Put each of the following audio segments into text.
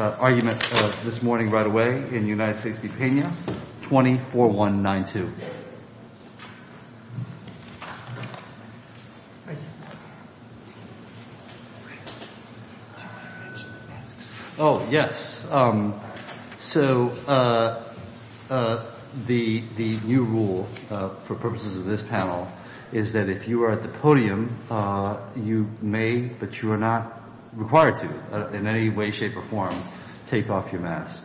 Oh, yes. So the new rule for purposes of this panel is that if you are at the podium, you may, but you are not required to, in any way, shape, or form, take off your mask.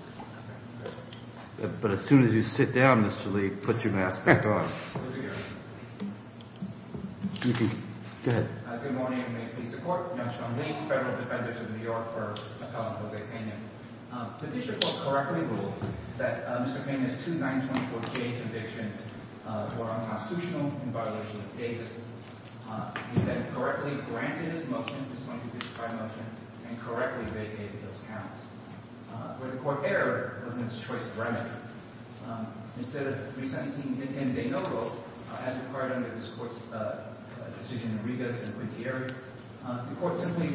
But as soon as you sit down, Mr. Lee, put your mask back on. Good morning, and may it please the Court. I'm Sean Lee, Federal Defender to the New York Court of Appellant Jose Pena. The district court correctly ruled that Mr. Pena's two 924K convictions were unconstitutional in violation of Davis. He then correctly granted his motion, his 2255 motion, and correctly vacated those counts. When the Court erred, it wasn't its choice of remedy. Instead of resentencing him in de novo, as required under this Court's decision in Regas and Guintierre, the Court simply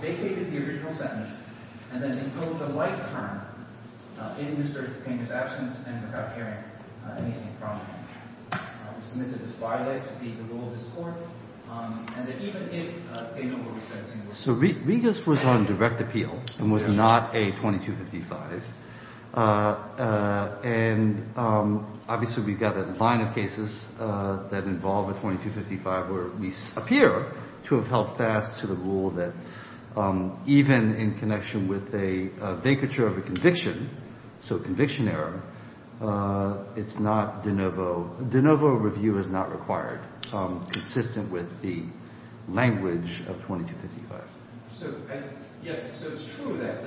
vacated the original sentence and then imposed a life term in Mr. Pena's absence and without hearing anything from him. It was submitted as violates the rule of this Court, and that even if de novo was sentencing him. So Regas was on direct appeal and was not a 2255. And obviously we've got a line of cases that involve a 2255 where we appear to have held fast to the rule that even in connection with a vacature of a conviction, so conviction error, it's not de novo. De novo review is not required. So I'm consistent with the language of 2255. So yes, so it's true that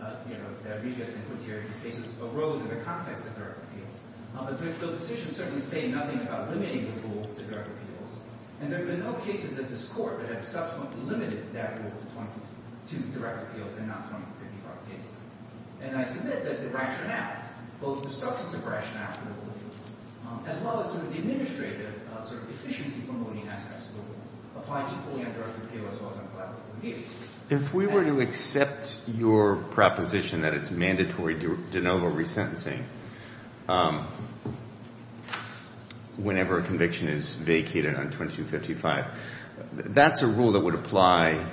Regas and Guintierre cases arose in the context of direct appeals. But the decisions certainly say nothing about limiting the rule to direct appeals. And there have been no cases at this Court that have subsequently limited that rule to direct appeals and not 2255 cases. And I submit that the Raction Act, both the structure of the Raction Act as well as sort of the administrative sort of efficiency promoting assets will apply equally on direct appeal as well as on collaborative litigation. If we were to accept your proposition that it's mandatory de novo resentencing whenever a conviction is vacated on 2255, that's a rule that would apply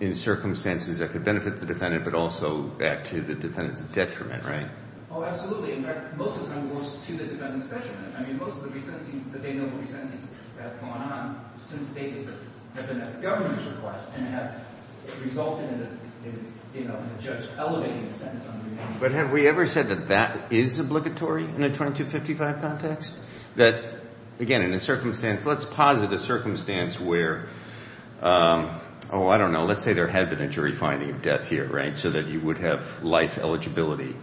in circumstances that could benefit the defendant but also add to the defendant's detriment, right? Oh, absolutely. In fact, most of them goes to the defendant's detriment. I mean, most of the resentencings, the de novo resentencings that have gone on since Davis have been at the government's request and have resulted in the judge elevating the sentence under the name. But have we ever said that that is obligatory in a 2255 context? That, again, in a circumstance, let's posit a circumstance where, oh, I don't know. Let's say there had been a jury finding of death here, right, so that you would have life eligibility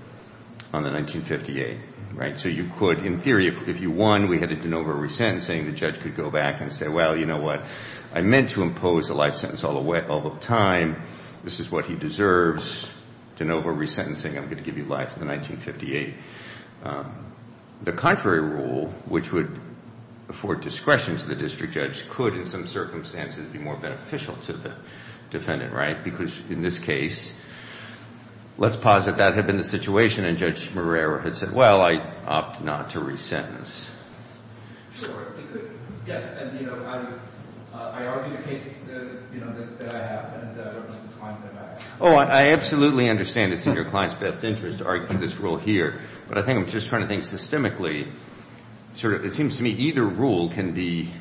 on the 1958, right? So you could, in theory, if you won, we had a de novo resentencing. The judge could go back and say, well, you know what? I meant to impose a life sentence all the time. This is what he deserves, de novo resentencing. I'm going to give you life in the 1958. The contrary rule, which would afford discretion to the district judge, could, in some circumstances, be more beneficial to the defendant, right? Because in this case, let's posit that had been the situation and Judge Morera had said, well, I opt not to resentence. Sure. It could. Yes. And, you know, I argue the cases, you know, that I have. Oh, I absolutely understand it's in your client's best interest to argue this rule here. But I think I'm just trying to think systemically. It seems to me either rule can be,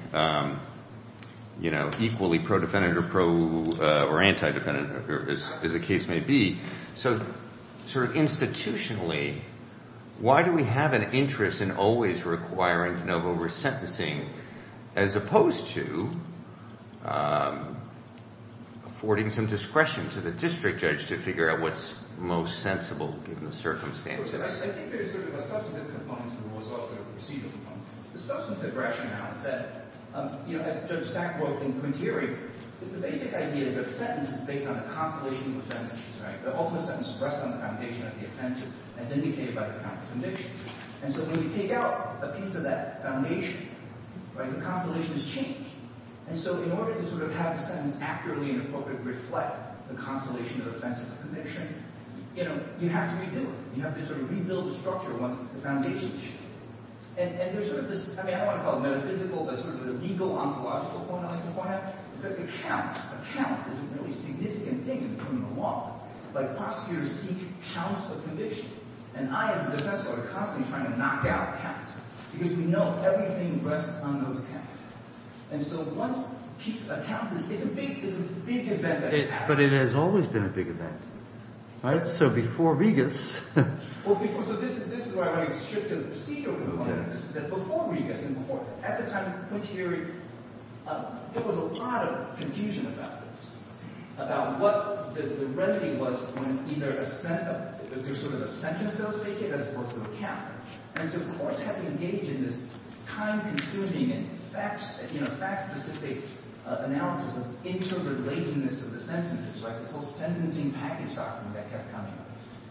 you know, equally pro-defendant or anti-defendant, as the case may be. So sort of institutionally, why do we have an interest in always requiring de novo resentencing, as opposed to affording some discretion to the district judge to figure out what's most sensible, given the circumstances? I think there's sort of a substantive component to the rule as well as a procedural component. The substantive rationale is that, you know, as Judge Stack wrote in Quinterio, the basic idea is that a sentence is based on a constellation of offenses, right? The ultimate sentence rests on the foundation of the offenses, as indicated by the counts of conviction. And so when we take out a piece of that foundation, right, the constellation is changed. And so in order to sort of have a sentence accurately and appropriately reflect the constellation of offenses and conviction, you know, you have to redo it. You have to sort of rebuild the structure once the foundation is changed. And there's sort of this, I mean, I don't want to call it metaphysical, but sort of the legal, ontological point I like to point out, is that the count, a count is a really significant thing in criminal law. Like prosecutors seek counts of conviction. And I, as a defense lawyer, constantly try to knock out counts, because we know everything rests on those counts. And so once a piece of that count is, it's a big event that happens. But it has always been a big event, right? So before Regas. Well, so this is why I want to restrict the procedure a little bit. This is before Regas and before, at the time of Quinciary, there was a lot of confusion about this, about what the remedy was when either there's sort of a sentence that was faked as opposed to a count. And so courts had to engage in this time-consuming and fact-specific analysis of interrelatedness of the sentences, right? This whole sentencing package document that kept coming.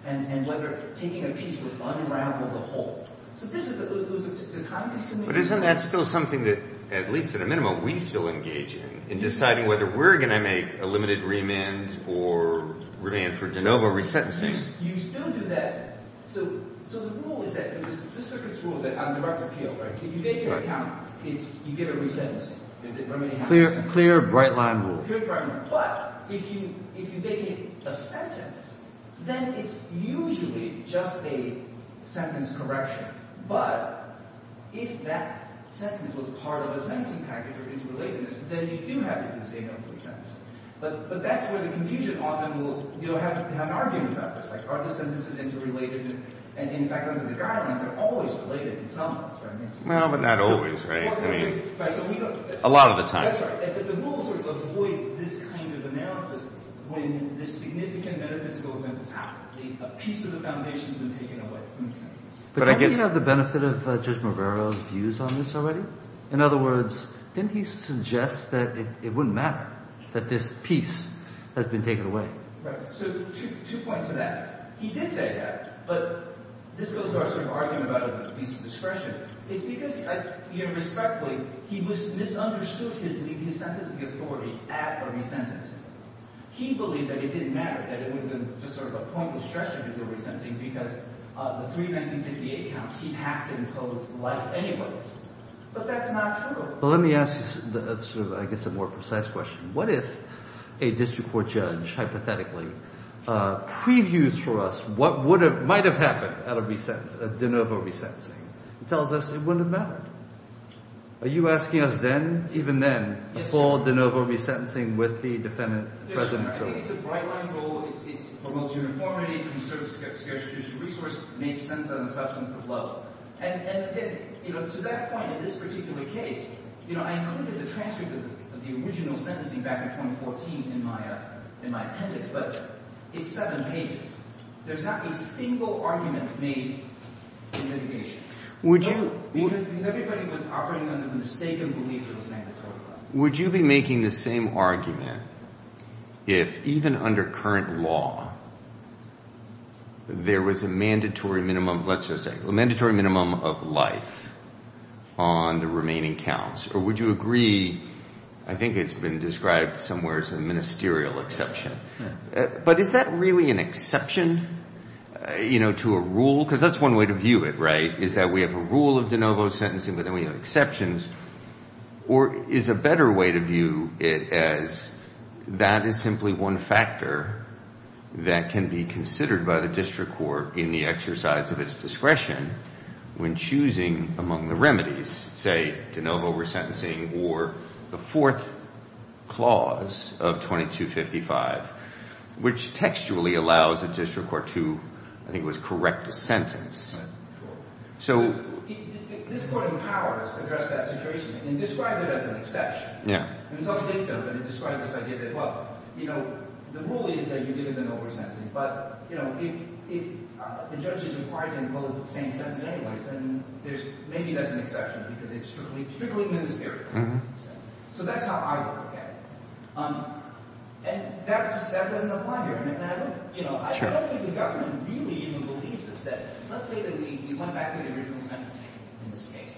And whether taking a piece would unravel the whole. So this is, it was a time-consuming process. But isn't that still something that, at least at a minimum, we still engage in, in deciding whether we're going to make a limited remand or remand for de novo resentencing? You still do that. So the rule is that, it was the circuit's rule that on direct appeal, right? If you make it a count, you get a resentencing. A clear, bright-line rule. But if you make it a sentence, then it's usually just a sentence correction. But if that sentence was part of a sentencing package or interrelatedness, then you do have to do de novo resentencing. But that's where the confusion often will have an argument about this. Like, are the sentences interrelated? And in fact, under the guidelines, they're always related in some sense. Well, but not always, right? A lot of the time. That's right. The rule sort of avoids this kind of analysis when this significant metaphysical event has happened. A piece of the foundation has been taken away from the sentence. But don't we have the benefit of Judge Marvero's views on this already? In other words, didn't he suggest that it wouldn't matter that this piece has been taken away? Right. So two points to that. He did say that, but this goes to our sort of argument about a piece of discretion. It's because, you know, respectfully, he misunderstood his sentencing authority at a resentence. He believed that it didn't matter, that it would have been just sort of a pointless stretch to do the resentencing because of the three 1958 counts. He has to impose life anyways. But that's not true. Well, let me ask you sort of, I guess, a more precise question. What if a district court judge hypothetically previews for us what might have happened at a resentence, a de novo resentencing, and tells us it wouldn't have mattered? Are you asking us then, even then, for de novo resentencing with the defendant present? It's a bright-line rule. It promotes uniformity, conserves scarce judicial resource, makes sense on a substantive level. And, you know, to that point, in this particular case, you know, I included a transcript of the original sentencing back in 2014 in my appendix, but it's seven pages. There's not a single argument made in litigation. Because everybody was operating under the mistaken belief it was mandatory. Would you be making the same argument if, even under current law, there was a mandatory minimum, let's just say, a mandatory minimum of life on the remaining counts? Or would you agree, I think it's been described somewhere as a ministerial exception. But is that really an exception, you know, to a rule? Because that's one way to view it, right, is that we have a rule of de novo sentencing, but then we have exceptions. Or is a better way to view it as that is simply one factor that can be considered by the district court in the exercise of its discretion when choosing among the remedies, say, de novo resentencing or the fourth clause of 2255, which textually allows a district court to, I think it was, correct a sentence. Right, sure. So... This Court of Powers addressed that situation and described it as an exception. Yeah. And some think of it and describe this idea that, well, you know, the rule is that you're given de novo resentencing. But, you know, if the judge is required to impose the same sentence anyway, then maybe that's an exception because it's strictly ministerial. So that's how I look at it. And that doesn't apply here. I don't think the government really even believes this. Let's say that we went back to the original sentencing in this case.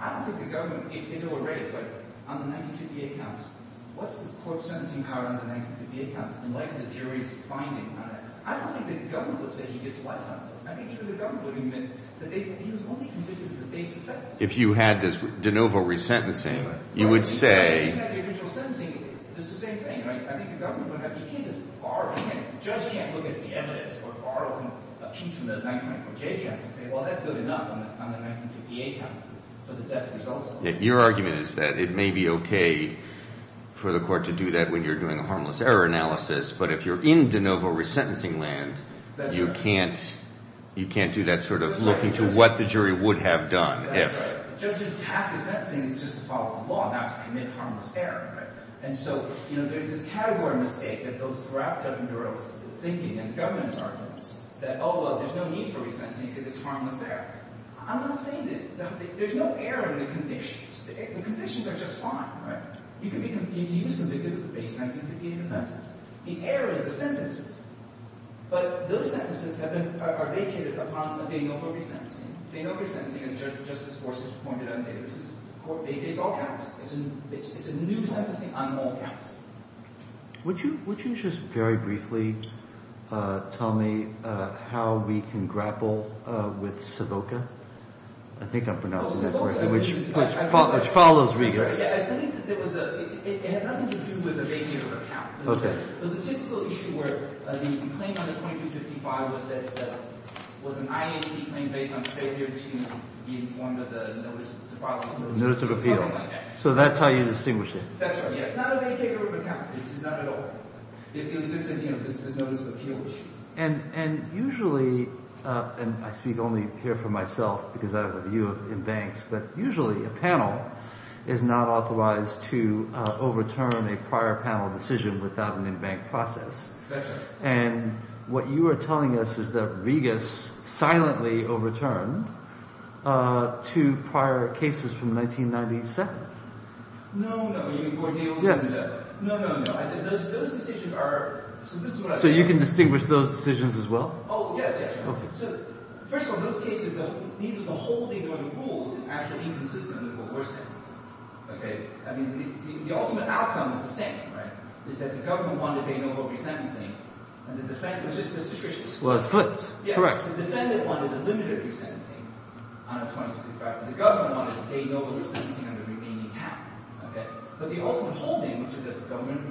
I don't think the government, if it were raised, but on the 1958 counts, what's the court's sentencing power on the 1958 counts? And what are the jury's findings on that? I don't think the government would say he gets life on this. I think even the government would admit that he was only convicted of the basic offense. If you had this de novo resentencing, you would say... But if you had the original sentencing, it's the same thing, right? I think the government would have, you can't just bar him. The judge can't look at the evidence or borrow a piece from the 1954 JBI to say, well, that's good enough on the 1958 counts for the death results. Your argument is that it may be okay for the court to do that when you're doing a harmless error analysis. But if you're in de novo resentencing land, you can't do that sort of looking to what the jury would have done if. The judge's task of sentencing is just to follow the law, not to commit harmless error. And so there's this category mistake that goes throughout Judge Induro's thinking and the government's arguments that, oh, well, there's no need for resentencing because it's harmless error. I'm not saying this. There's no error in the conditions. The conditions are just fine, right? He was convicted of the basic 1958 offenses. The error is the sentences. But those sentences are vacated upon a de novo resentencing. De novo resentencing, as Justice Gorsuch pointed out, it's all counts. It's a new sentencing on all counts. Would you just very briefly tell me how we can grapple with Savoca? I think I'm pronouncing that correctly, which follows Regas. It had nothing to do with a vacated account. It was a typical issue where the claim under 2255 was an IAC claim based on failure to be informed of the notice of appeal. Notice of appeal. Something like that. So that's how you distinguished it. That's right. It's not a vacated account. It's not at all. It was just a notice of appeal issue. And usually—and I speak only here for myself because I have a view of embanks—but usually a panel is not authorized to overturn a prior panel decision without an embank process. That's right. And what you are telling us is that Regas silently overturned two prior cases from 1997. No, no. You mean Bordeaux? Yes. No, no, no. Those decisions are—so this is what I'm saying. So you can distinguish those decisions as well? Oh, yes, yes. Okay. So first of all, in those cases, the whole thing that we ruled is actually inconsistent with what we're saying. Okay? I mean, the ultimate outcome is the same, right? Is that the government wanted a no vote resentencing and the defendant— Well, it's flipped. Correct. The defendant wanted a limited resentencing on a 2235, and the government wanted a no vote resentencing on the remaining half. Okay? But the ultimate whole thing, which is that the government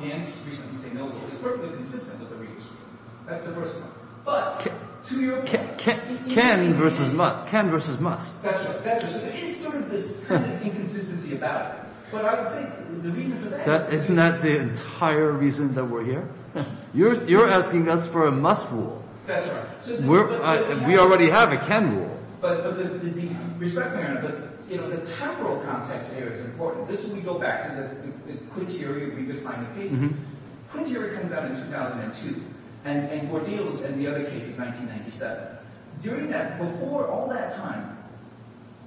can't reasonably say no vote, is perfectly consistent with the Regas rule. That's the first point. But to your— Can versus must. Can versus must. That's right. So there is sort of this kind of inconsistency about it. But I would say the reason for that— Isn't that the entire reason that we're here? You're asking us for a must rule. That's right. We already have a can rule. But the—respectfully, Your Honor, but, you know, the temporal context here is important. This is—we go back to the Quincy area of Regas finding cases. Quincy area comes out in 2002, and Gordillo is in the other case of 1997. During that—before all that time,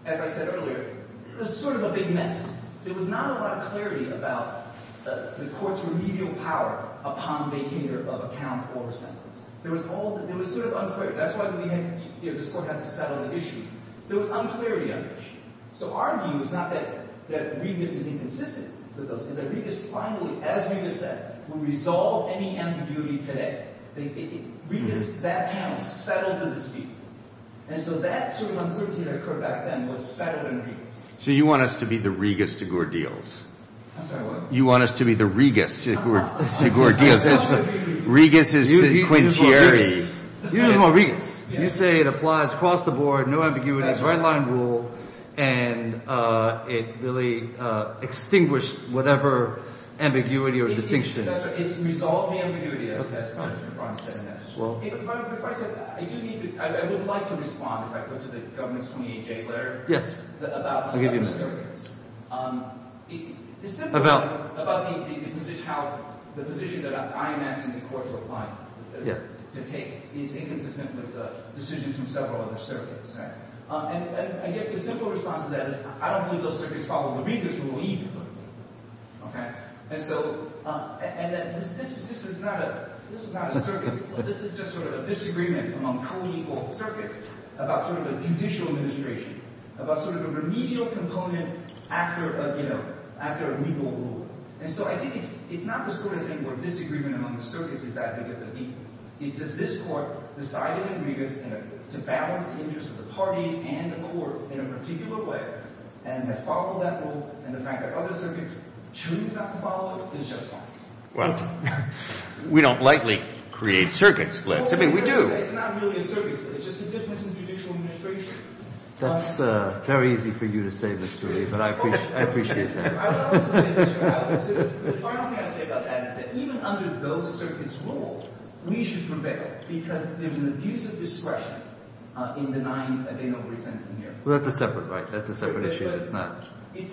as I said earlier, it was sort of a big mess. There was not a lot of clarity about the court's remedial power upon vacater of a count or a sentence. There was all—it was sort of unclear. That's why we had—this court had to settle the issue. There was unclarity on the issue. So our view is not that Regas is inconsistent with those. It's that Regas finally, as Regas said, will resolve any ambiguity today. Regas, that panel, settled the dispute. And so that sort of uncertainty that occurred back then was settled in Regas. So you want us to be the Regas to Gordillos. I'm sorry, what? You want us to be the Regas to Gordillos. Regas is the quintiary. You're the more Regas. You say it applies across the board, no ambiguity, right-line rule, and it really extinguished whatever ambiguity or distinction. It's resolved the ambiguity, as Ron said in that as well. If I said that, I do need to—I would like to respond, if I could, to the government's 28-J letter. Yes, I'll give you a minute. It's simply about how the position that I am asking the court to apply to, to take, is inconsistent with decisions from several other circuits. And I guess the simple response to that is I don't believe those circuits follow the Regas rule either. And so this is not a circuit. This is just sort of a disagreement among co-legal circuits about sort of a judicial administration, about sort of a remedial component after a legal rule. And so I think it's not the sort of thing where disagreement among the circuits is that big of a deal. It's that this court decided in Regas to balance the interests of the parties and the court in a particular way and has followed that rule. And the fact that other circuits choose not to follow it is just fine. Well, we don't likely create circuit splits. I mean, we do. It's not really a circuit split. It's just a difference in judicial administration. That's very easy for you to say, Mr. Lee, but I appreciate that. I would also say this, Your Honor. The final thing I would say about that is that even under those circuits' rule, we should prevail because there's an abuse of discretion in the nine that they normally sentence in here. Well, that's a separate right. That's a separate issue. But it's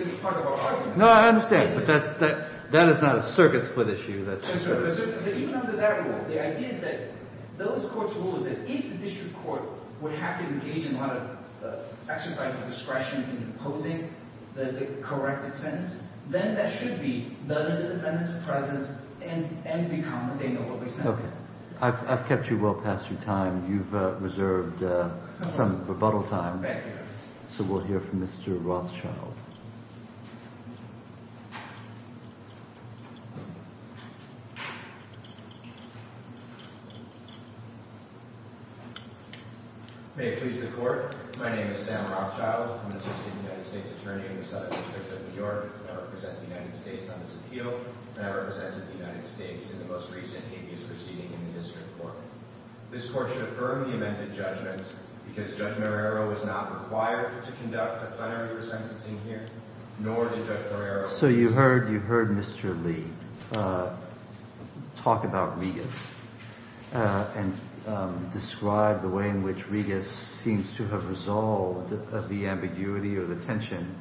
a part of our argument. No, I understand. But that is not a circuit split issue. Even under that rule, the idea is that those courts' rule is that if the district court would have to engage in a lot of exercising of discretion in imposing the correct sentence, then that should be none of the defendant's presence and become what they normally sentence. Okay. I've kept you well past your time. You've reserved some rebuttal time. Thank you. So we'll hear from Mr. Rothschild. May it please the Court. My name is Stan Rothschild. I'm an assistant United States attorney in the Southern District of New York. I represent the United States on this appeal, and I represented the United States in the most recent habeas proceeding in the district court. This court should affirm the amended judgment because Judge Marrero was not required to conduct a plenary resentencing here, nor did Judge Marrero. So you heard Mr. Lee talk about Regas and describe the way in which Regas seems to have resolved the ambiguity or the tension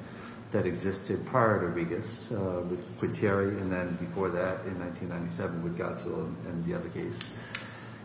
that existed prior to Regas with Quittieri and then before that in 1997 with Godsell and the other case.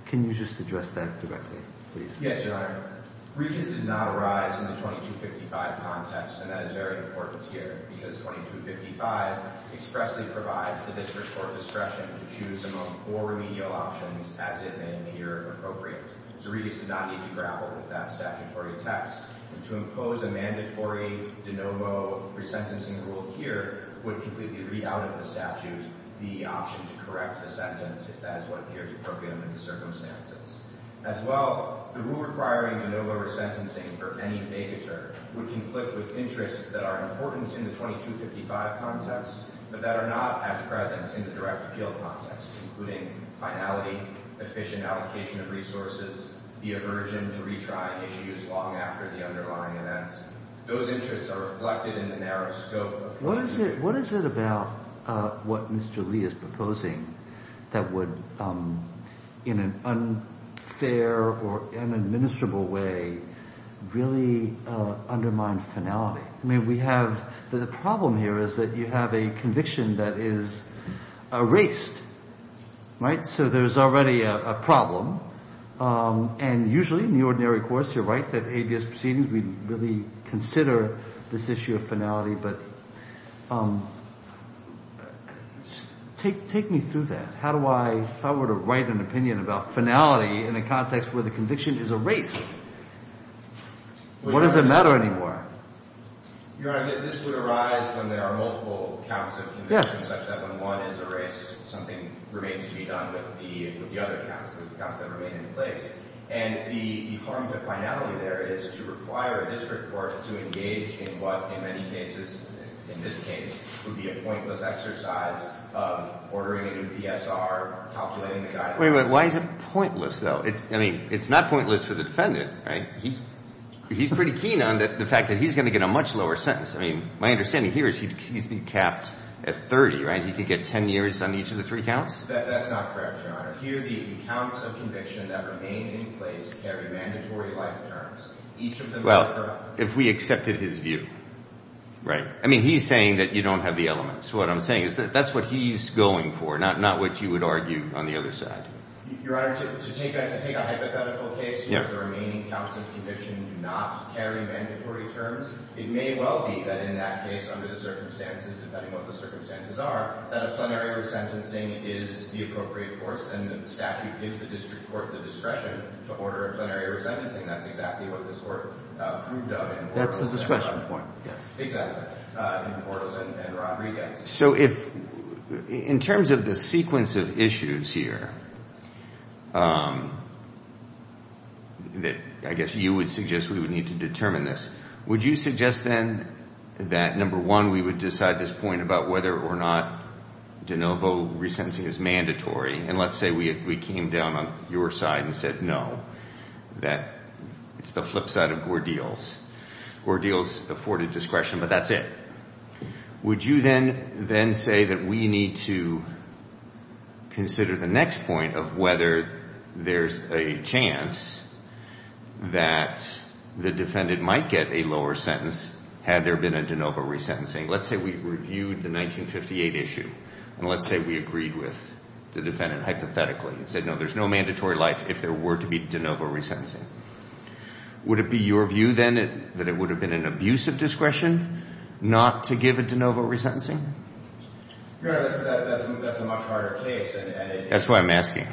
Can you just address that directly, please? Yes, Your Honor. Regas did not arise in the 2255 context, and that is very important here because 2255 expressly provides the district court discretion to choose among four remedial options as it may appear appropriate. So Regas did not need to grapple with that statutory text. And to impose a mandatory de novo resentencing rule here would completely read out of the statute the option to correct the sentence if that is what appears appropriate under the circumstances. As well, the rule requiring de novo resentencing for any negator would conflict with interests that are important in the 2255 context, but that are not as present in the direct appeal context, including finality, efficient allocation of resources, the aversion to retry issues long after the underlying events. Those interests are reflected in the narrow scope of the case. What is it about what Mr. Lee is proposing that would, in an unfair or inadministrable way, really undermine finality? I mean, we have the problem here is that you have a conviction that is erased, right? So there's already a problem. And usually in the ordinary course, you're right, that ABS proceedings, we really consider this issue of finality. But take me through that. How would I write an opinion about finality in a context where the conviction is erased? What does it matter anymore? Your Honor, this would arise when there are multiple counts of conviction such that when one is erased, something remains to be done with the other counts, the counts that remain in place. And the harm to finality there is to require a district court to engage in what in many cases, in this case, would be a pointless exercise of ordering a new PSR, calculating the guidelines. Wait a minute. Why is it pointless, though? I mean, it's not pointless for the defendant, right? He's pretty keen on the fact that he's going to get a much lower sentence. I mean, my understanding here is he's been capped at 30, right? He could get 10 years on each of the three counts? That's not correct, Your Honor. Here the counts of conviction that remain in place carry mandatory life terms. Well, if we accepted his view, right? I mean, he's saying that you don't have the elements. What I'm saying is that that's what he's going for, not what you would argue on the other side. Your Honor, to take a hypothetical case where the remaining counts of conviction do not carry mandatory terms, it may well be that in that case, under the circumstances, depending on what the circumstances are, that a plenary resentencing is the appropriate course, and the statute gives the district court the discretion to order a plenary resentencing. That's exactly what this Court proved of in Portos. That's the discretion point, yes. Exactly. In Portos and Rodriguez. So if, in terms of the sequence of issues here that I guess you would suggest we would need to determine this, would you suggest then that, number one, we would decide this point about whether or not de novo resentencing is mandatory, and let's say we came down on your side and said no, that it's the flip side of Gordil's. Gordil's afforded discretion, but that's it. Would you then say that we need to consider the next point of whether there's a chance that the defendant might get a lower sentence had there been a de novo resentencing? Let's say we reviewed the 1958 issue, and let's say we agreed with the defendant hypothetically and said no, there's no mandatory life if there were to be de novo resentencing. Would it be your view then that it would have been an abusive discretion not to give a de novo resentencing? Your Honor, that's a much harder case. That's why I'm asking.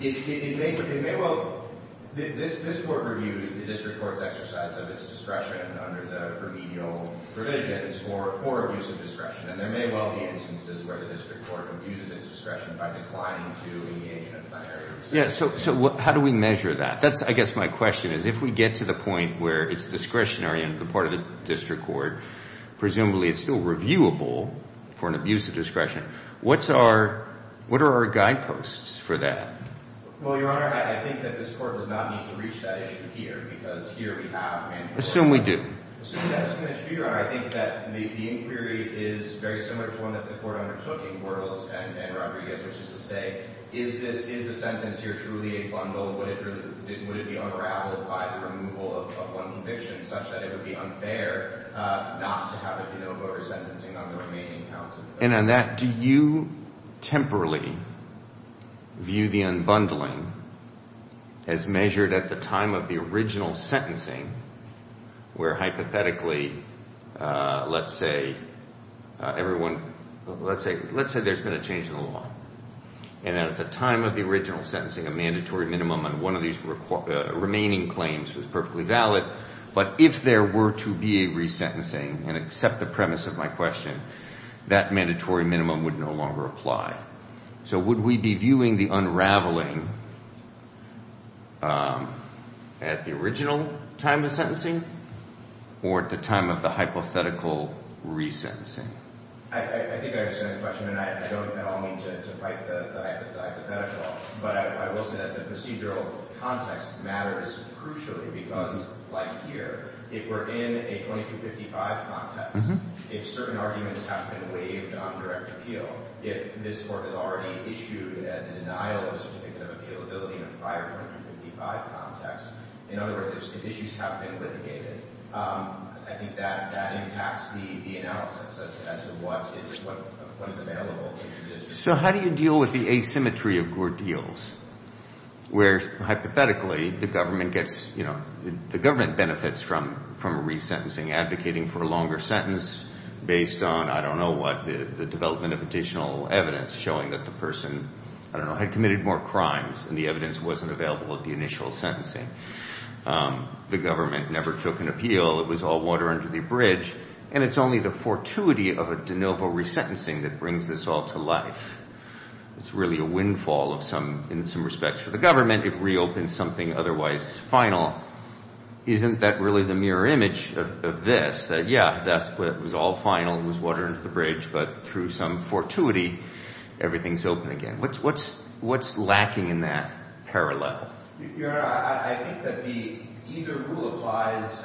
It may well – this Court reviews the district court's exercise of its discretion under the remedial provisions for abusive discretion, and there may well be instances where the district court abuses its discretion by declining to engage in a binary of sentences. So how do we measure that? I guess my question is if we get to the point where it's discretionary on the part of the district court, presumably it's still reviewable for an abusive discretion, what's our – what are our guideposts for that? Well, Your Honor, I think that this Court does not need to reach that issue here because here we have mandatory – Assume we do. Assume that's an issue, Your Honor. I think that the inquiry is very similar to one that the Court undertook in Burles and Rodriguez, which is to say is this – is the sentence here truly a bundle? Would it be unraveled by the removal of one conviction such that it would be unfair not to have a de novo resentencing on the remaining counts? And on that, do you temporarily view the unbundling as measured at the time of the original sentencing where hypothetically, let's say everyone – let's say there's been a change in the law, and at the time of the original sentencing a mandatory minimum on one of these remaining claims was perfectly valid, but if there were to be a resentencing and accept the premise of my question, that mandatory minimum would no longer apply. So would we be viewing the unraveling at the original time of sentencing or at the time of the hypothetical resentencing? I think I understand the question, and I don't at all mean to fight the hypothetical, but I will say that the procedural context matters crucially because, like here, if we're in a 2255 context, if certain arguments have been waived on direct appeal, if this Court has already issued a denial of certificate of appealability in a prior 2255 context, in other words, if issues have been litigated, I think that impacts the analysis as to what is available. So how do you deal with the asymmetry of Gordilles where, hypothetically, the government gets – the government benefits from a resentencing advocating for a longer sentence based on, I don't know what, the development of additional evidence showing that the person, I don't know, had committed more crimes and the evidence wasn't available at the initial sentencing. The government never took an appeal. It was all water under the bridge. And it's only the fortuity of a de novo resentencing that brings this all to life. It's really a windfall of some – in some respects for the government. It reopens something otherwise final. Isn't that really the mirror image of this, that, yeah, that's – it was all final, it was water under the bridge, but through some fortuity, everything's open again? What's lacking in that parallel? Your Honor, I think that the – either rule applies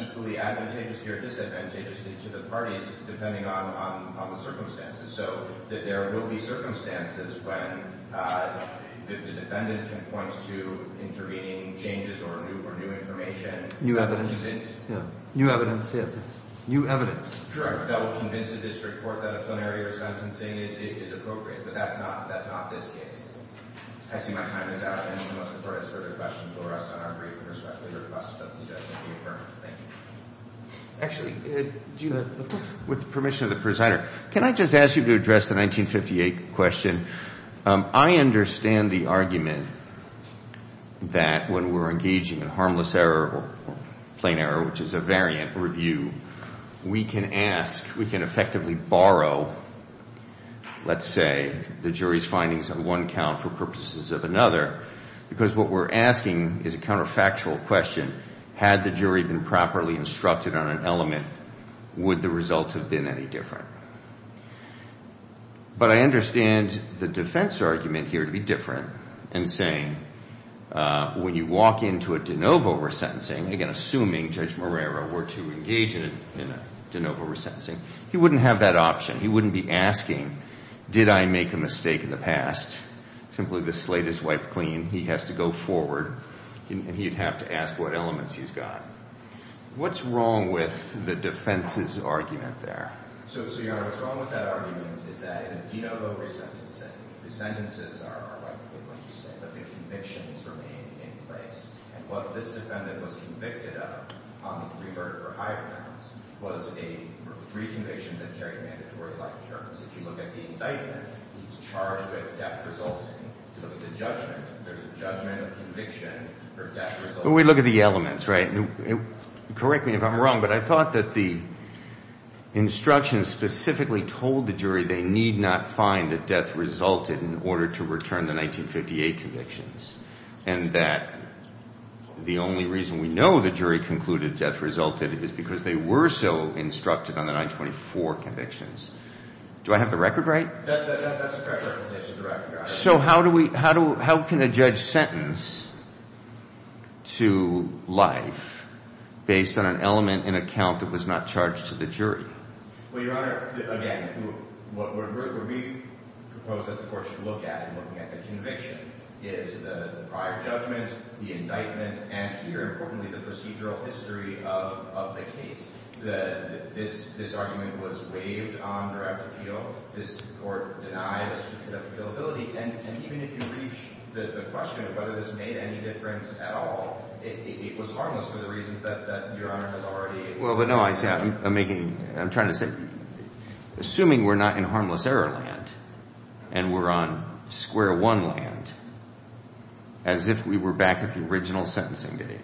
equally advantageously or disadvantageously to the parties depending on the circumstances. So that there will be circumstances when the defendant can point to intervening changes or new information. New evidence. Yeah. New evidence, yes. New evidence. Correct. That will convince a district court that a plenary resentencing is appropriate. But that's not – that's not this case. I see my time is out. Anyone who wants to ask further questions will rest on our brief and respectfully request that the defense be adjourned. Thank you. Actually, with permission of the presenter, can I just ask you to address the 1958 question? I understand the argument that when we're engaging in harmless error or plain error, which is a variant review, we can ask – we can effectively borrow, let's say, the jury's findings on one count for purposes of another, because what we're asking is a counterfactual question. Had the jury been properly instructed on an element, would the result have been any different? But I understand the defense argument here to be different in saying when you walk into a de novo resentencing, again, assuming Judge Moreira were to engage in a de novo resentencing, he wouldn't have that option. He wouldn't be asking, did I make a mistake in the past? Simply the slate is wiped clean. He has to go forward, and he'd have to ask what elements he's got. What's wrong with the defense's argument there? So, Your Honor, what's wrong with that argument is that in a de novo resentencing, the sentences are rightfully what you say, but the convictions remain in place. And what this defendant was convicted of on the three verdict for higher counts was three convictions that carry mandatory life terms. If you look at the indictment, he was charged with death resulting. If you look at the judgment, there's a judgment of conviction for death resulting. Well, we look at the elements, right? Correct me if I'm wrong, but I thought that the instructions specifically told the jury they need not find that death resulted in order to return the 1958 convictions and that the only reason we know the jury concluded death resulted is because they were so instructed on the 1924 convictions. Do I have the record right? That's a fair representation of the record, Your Honor. So how can a judge sentence to life based on an element in a count that was not charged to the jury? Well, Your Honor, again, what we propose that the court should look at in looking at the conviction is the prior judgment, the indictment, and here, importantly, the procedural history of the case. This argument was waived on direct appeal. This court denied us the ability. And even if you reach the question of whether this made any difference at all, it was harmless for the reasons that Your Honor has already— Well, but no, I'm trying to say, assuming we're not in harmless error land and we're on square one land, as if we were back at the original sentencing date,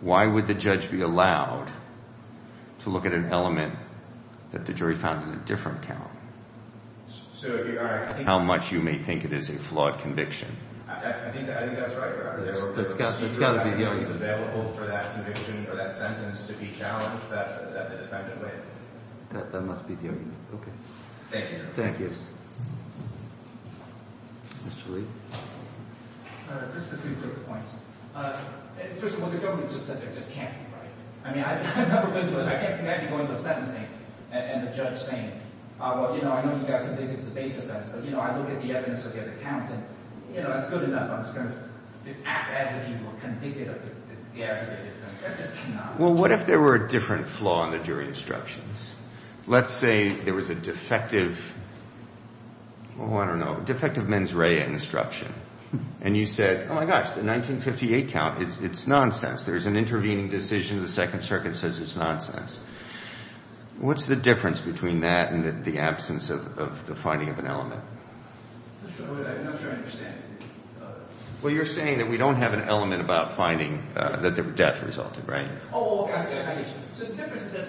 why would the judge be allowed to look at an element that the jury found in a different count? How much you may think it is a flawed conviction. I think that's right, Your Honor. It's got to be the argument. It's available for that conviction or that sentence to be challenged that way. That must be the argument. Okay. Thank you, Your Honor. Thank you. Mr. Lee? Just a few quick points. First of all, the government just said there just can't be, right? I mean, I've never been to a—I can't imagine going to a sentencing and the judge saying, well, you know, I know you got convicted of the base offense, but, you know, I look at the evidence of the other counts, and, you know, that's good enough. I'm just going to act as if you were convicted of the aggregate offense. That just cannot be. Well, what if there were a different flaw in the jury instructions? Let's say there was a defective—oh, I don't know—defective mens rea instruction, and you said, oh, my gosh, the 1958 count, it's nonsense. There's an intervening decision. The Second Circuit says it's nonsense. What's the difference between that and the absence of the finding of an element? I'm not sure I understand. Well, you're saying that we don't have an element about finding that the death resulted, right? Oh, I see. So the difference is that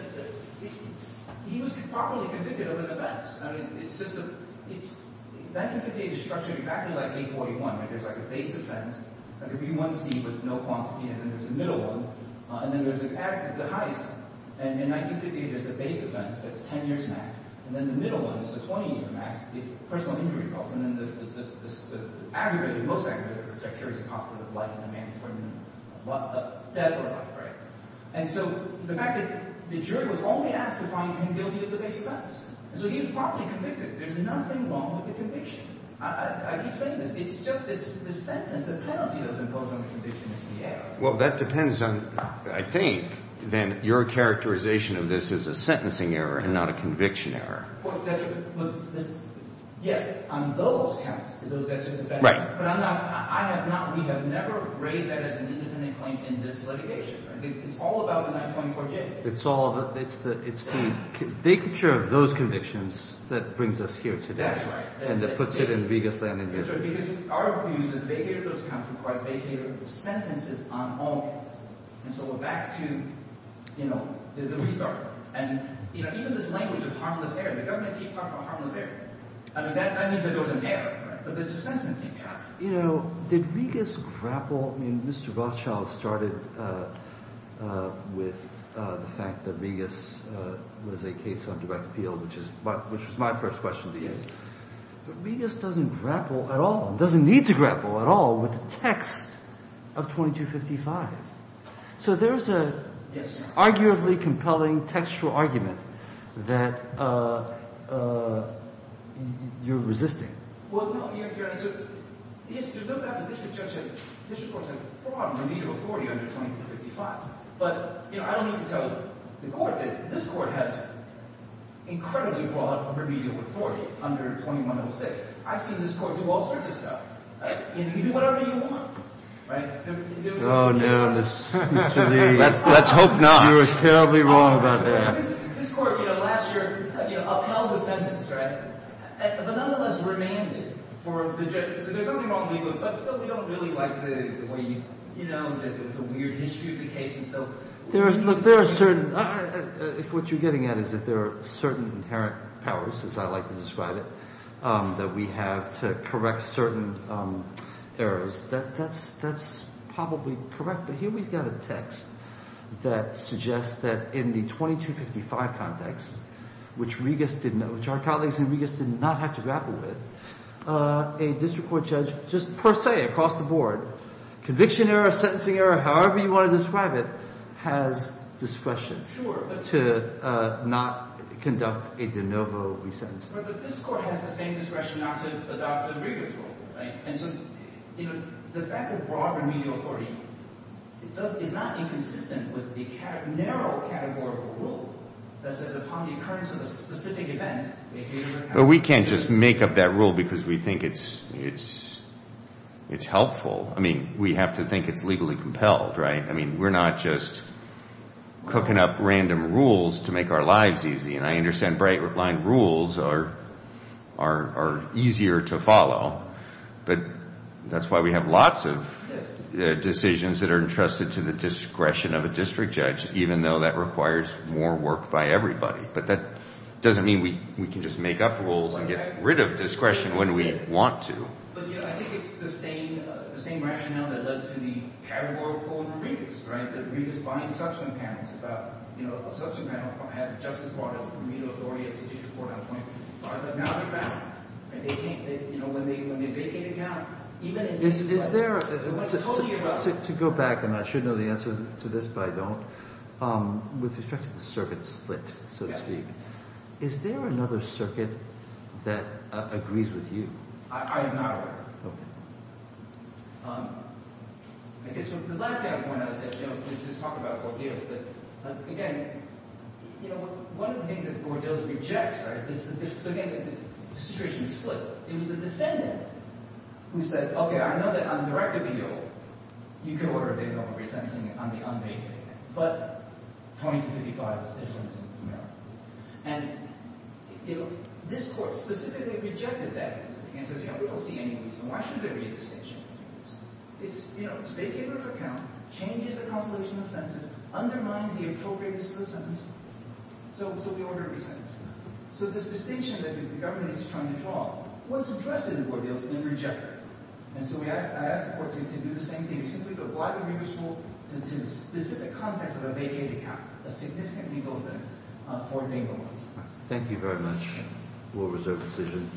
he was properly convicted of an offense. I mean, it's just a—1958 is structured exactly like 841, right? There's like a base offense, like a B1C with no quantity, and then there's a middle one, and then there's the highest, and in 1958, there's the base offense that's 10 years max, and then the middle one is the 20-year max, the personal injury problems, and then the aggregate, the most aggregate, which I'm sure is the cost of life in the mandatory minimum, death or life, right? And so the fact that the jury was only asked to find him guilty of the base offense, and so he was properly convicted. There's nothing wrong with the conviction. I keep saying this. It's just the sentence, the penalty that was imposed on the conviction is the error. Well, that depends on, I think, then, your characterization of this as a sentencing error and not a conviction error. Well, that's—yes, on those counts. Right. But I'm not—I have not—we have never raised that as an independent claim in this litigation. It's all about the 924Js. It's all—it's the—it's the vacature of those convictions that brings us here today. That's right. And that puts it in the biggest land in New Jersey. Because our view is that the vacature of those counts requires the vacature of the sentences on all counts. And so we're back to, you know, the restart. And, you know, even this language of harmless error, the government keeps talking about harmless error. I mean, that means that there was an error, but it's a sentencing count. You know, did Regas grapple—I mean, Mr. Rothschild started with the fact that Regas was a case on direct appeal, which was my first question to you. Yes. But Regas doesn't grapple at all—doesn't need to grapple at all with the text of 2255. So there's a— Yes. —arguably compelling textual argument that you're resisting. Well, no, Your Honor, so the issue—there's no doubt the district courts have broad remedial authority under 2255. But, you know, I don't need to tell the Court that this Court has incredibly broad remedial authority under 2106. I've seen this Court do all sorts of stuff. You know, you can do whatever you want, right? Oh, no, Mr. Lee. Let's hope not. You are terribly wrong about that. This Court, you know, last year, you know, upheld the sentence, right, but nonetheless remanded for the judge. So they're terribly wrong, but still we don't really like the way you—you know, that there's a weird history of the case. And so— There are certain—what you're getting at is that there are certain inherent powers, as I like to describe it, that we have to correct certain errors. That's probably correct. But here we've got a text that suggests that in the 2255 context, which Regas did not—which our colleagues in Regas did not have to grapple with, a district court judge just per se, across the board, conviction error, sentencing error, however you want to describe it, has discretion. Sure. To not conduct a de novo resentencing. But this Court has the same discretion not to adopt a Regas rule, right? And so, you know, the fact that broad remedial authority is not inconsistent with the narrow categorical rule that says upon the occurrence of a specific event— But we can't just make up that rule because we think it's helpful. I mean, we have to think it's legally compelled, right? I mean, we're not just cooking up random rules to make our lives easy. And I understand Breitbart line rules are easier to follow. But that's why we have lots of decisions that are entrusted to the discretion of a district judge, even though that requires more work by everybody. But that doesn't mean we can just make up rules and get rid of discretion when we want to. But, you know, I think it's the same rationale that led to the categorical in Regas, right? That Regas binds subsequent panels about, you know, a subsequent panel had just as broad remedial authority as a district court on 25th. But now they're back. And they can't—you know, when they vacate a count— Is there— I told you about— To go back, and I should know the answer to this, but I don't, with respect to the circuit split, so to speak, is there another circuit that agrees with you? I am not aware of it. Okay. I guess the last thing I want to point out is that, you know, there's this talk about ordeals. But, again, you know, one of the things that the court of ordeals rejects, right, is that this—so, again, the situation is split. It was the defendant who said, okay, I know that on the direct appeal, you can order a bailiff on resentencing on the unpaid, but 20 to 55 is different in this matter. And, you know, this court specifically rejected that. And says, you know, we don't see any reason. Why should there be a distinction? It's, you know, it's a vacate of an account, changes the consolation offenses, undermines the appropriateness of the sentence, so we order a resentence. So this distinction that the government is trying to draw wasn't trusted in the court of ordeals, and they rejected it. And so I ask the court to do the same thing. Simply to apply the remiss rule to the specific context of a vacate account, a significant legal event for Daneville. Thank you very much. We'll reserve decision.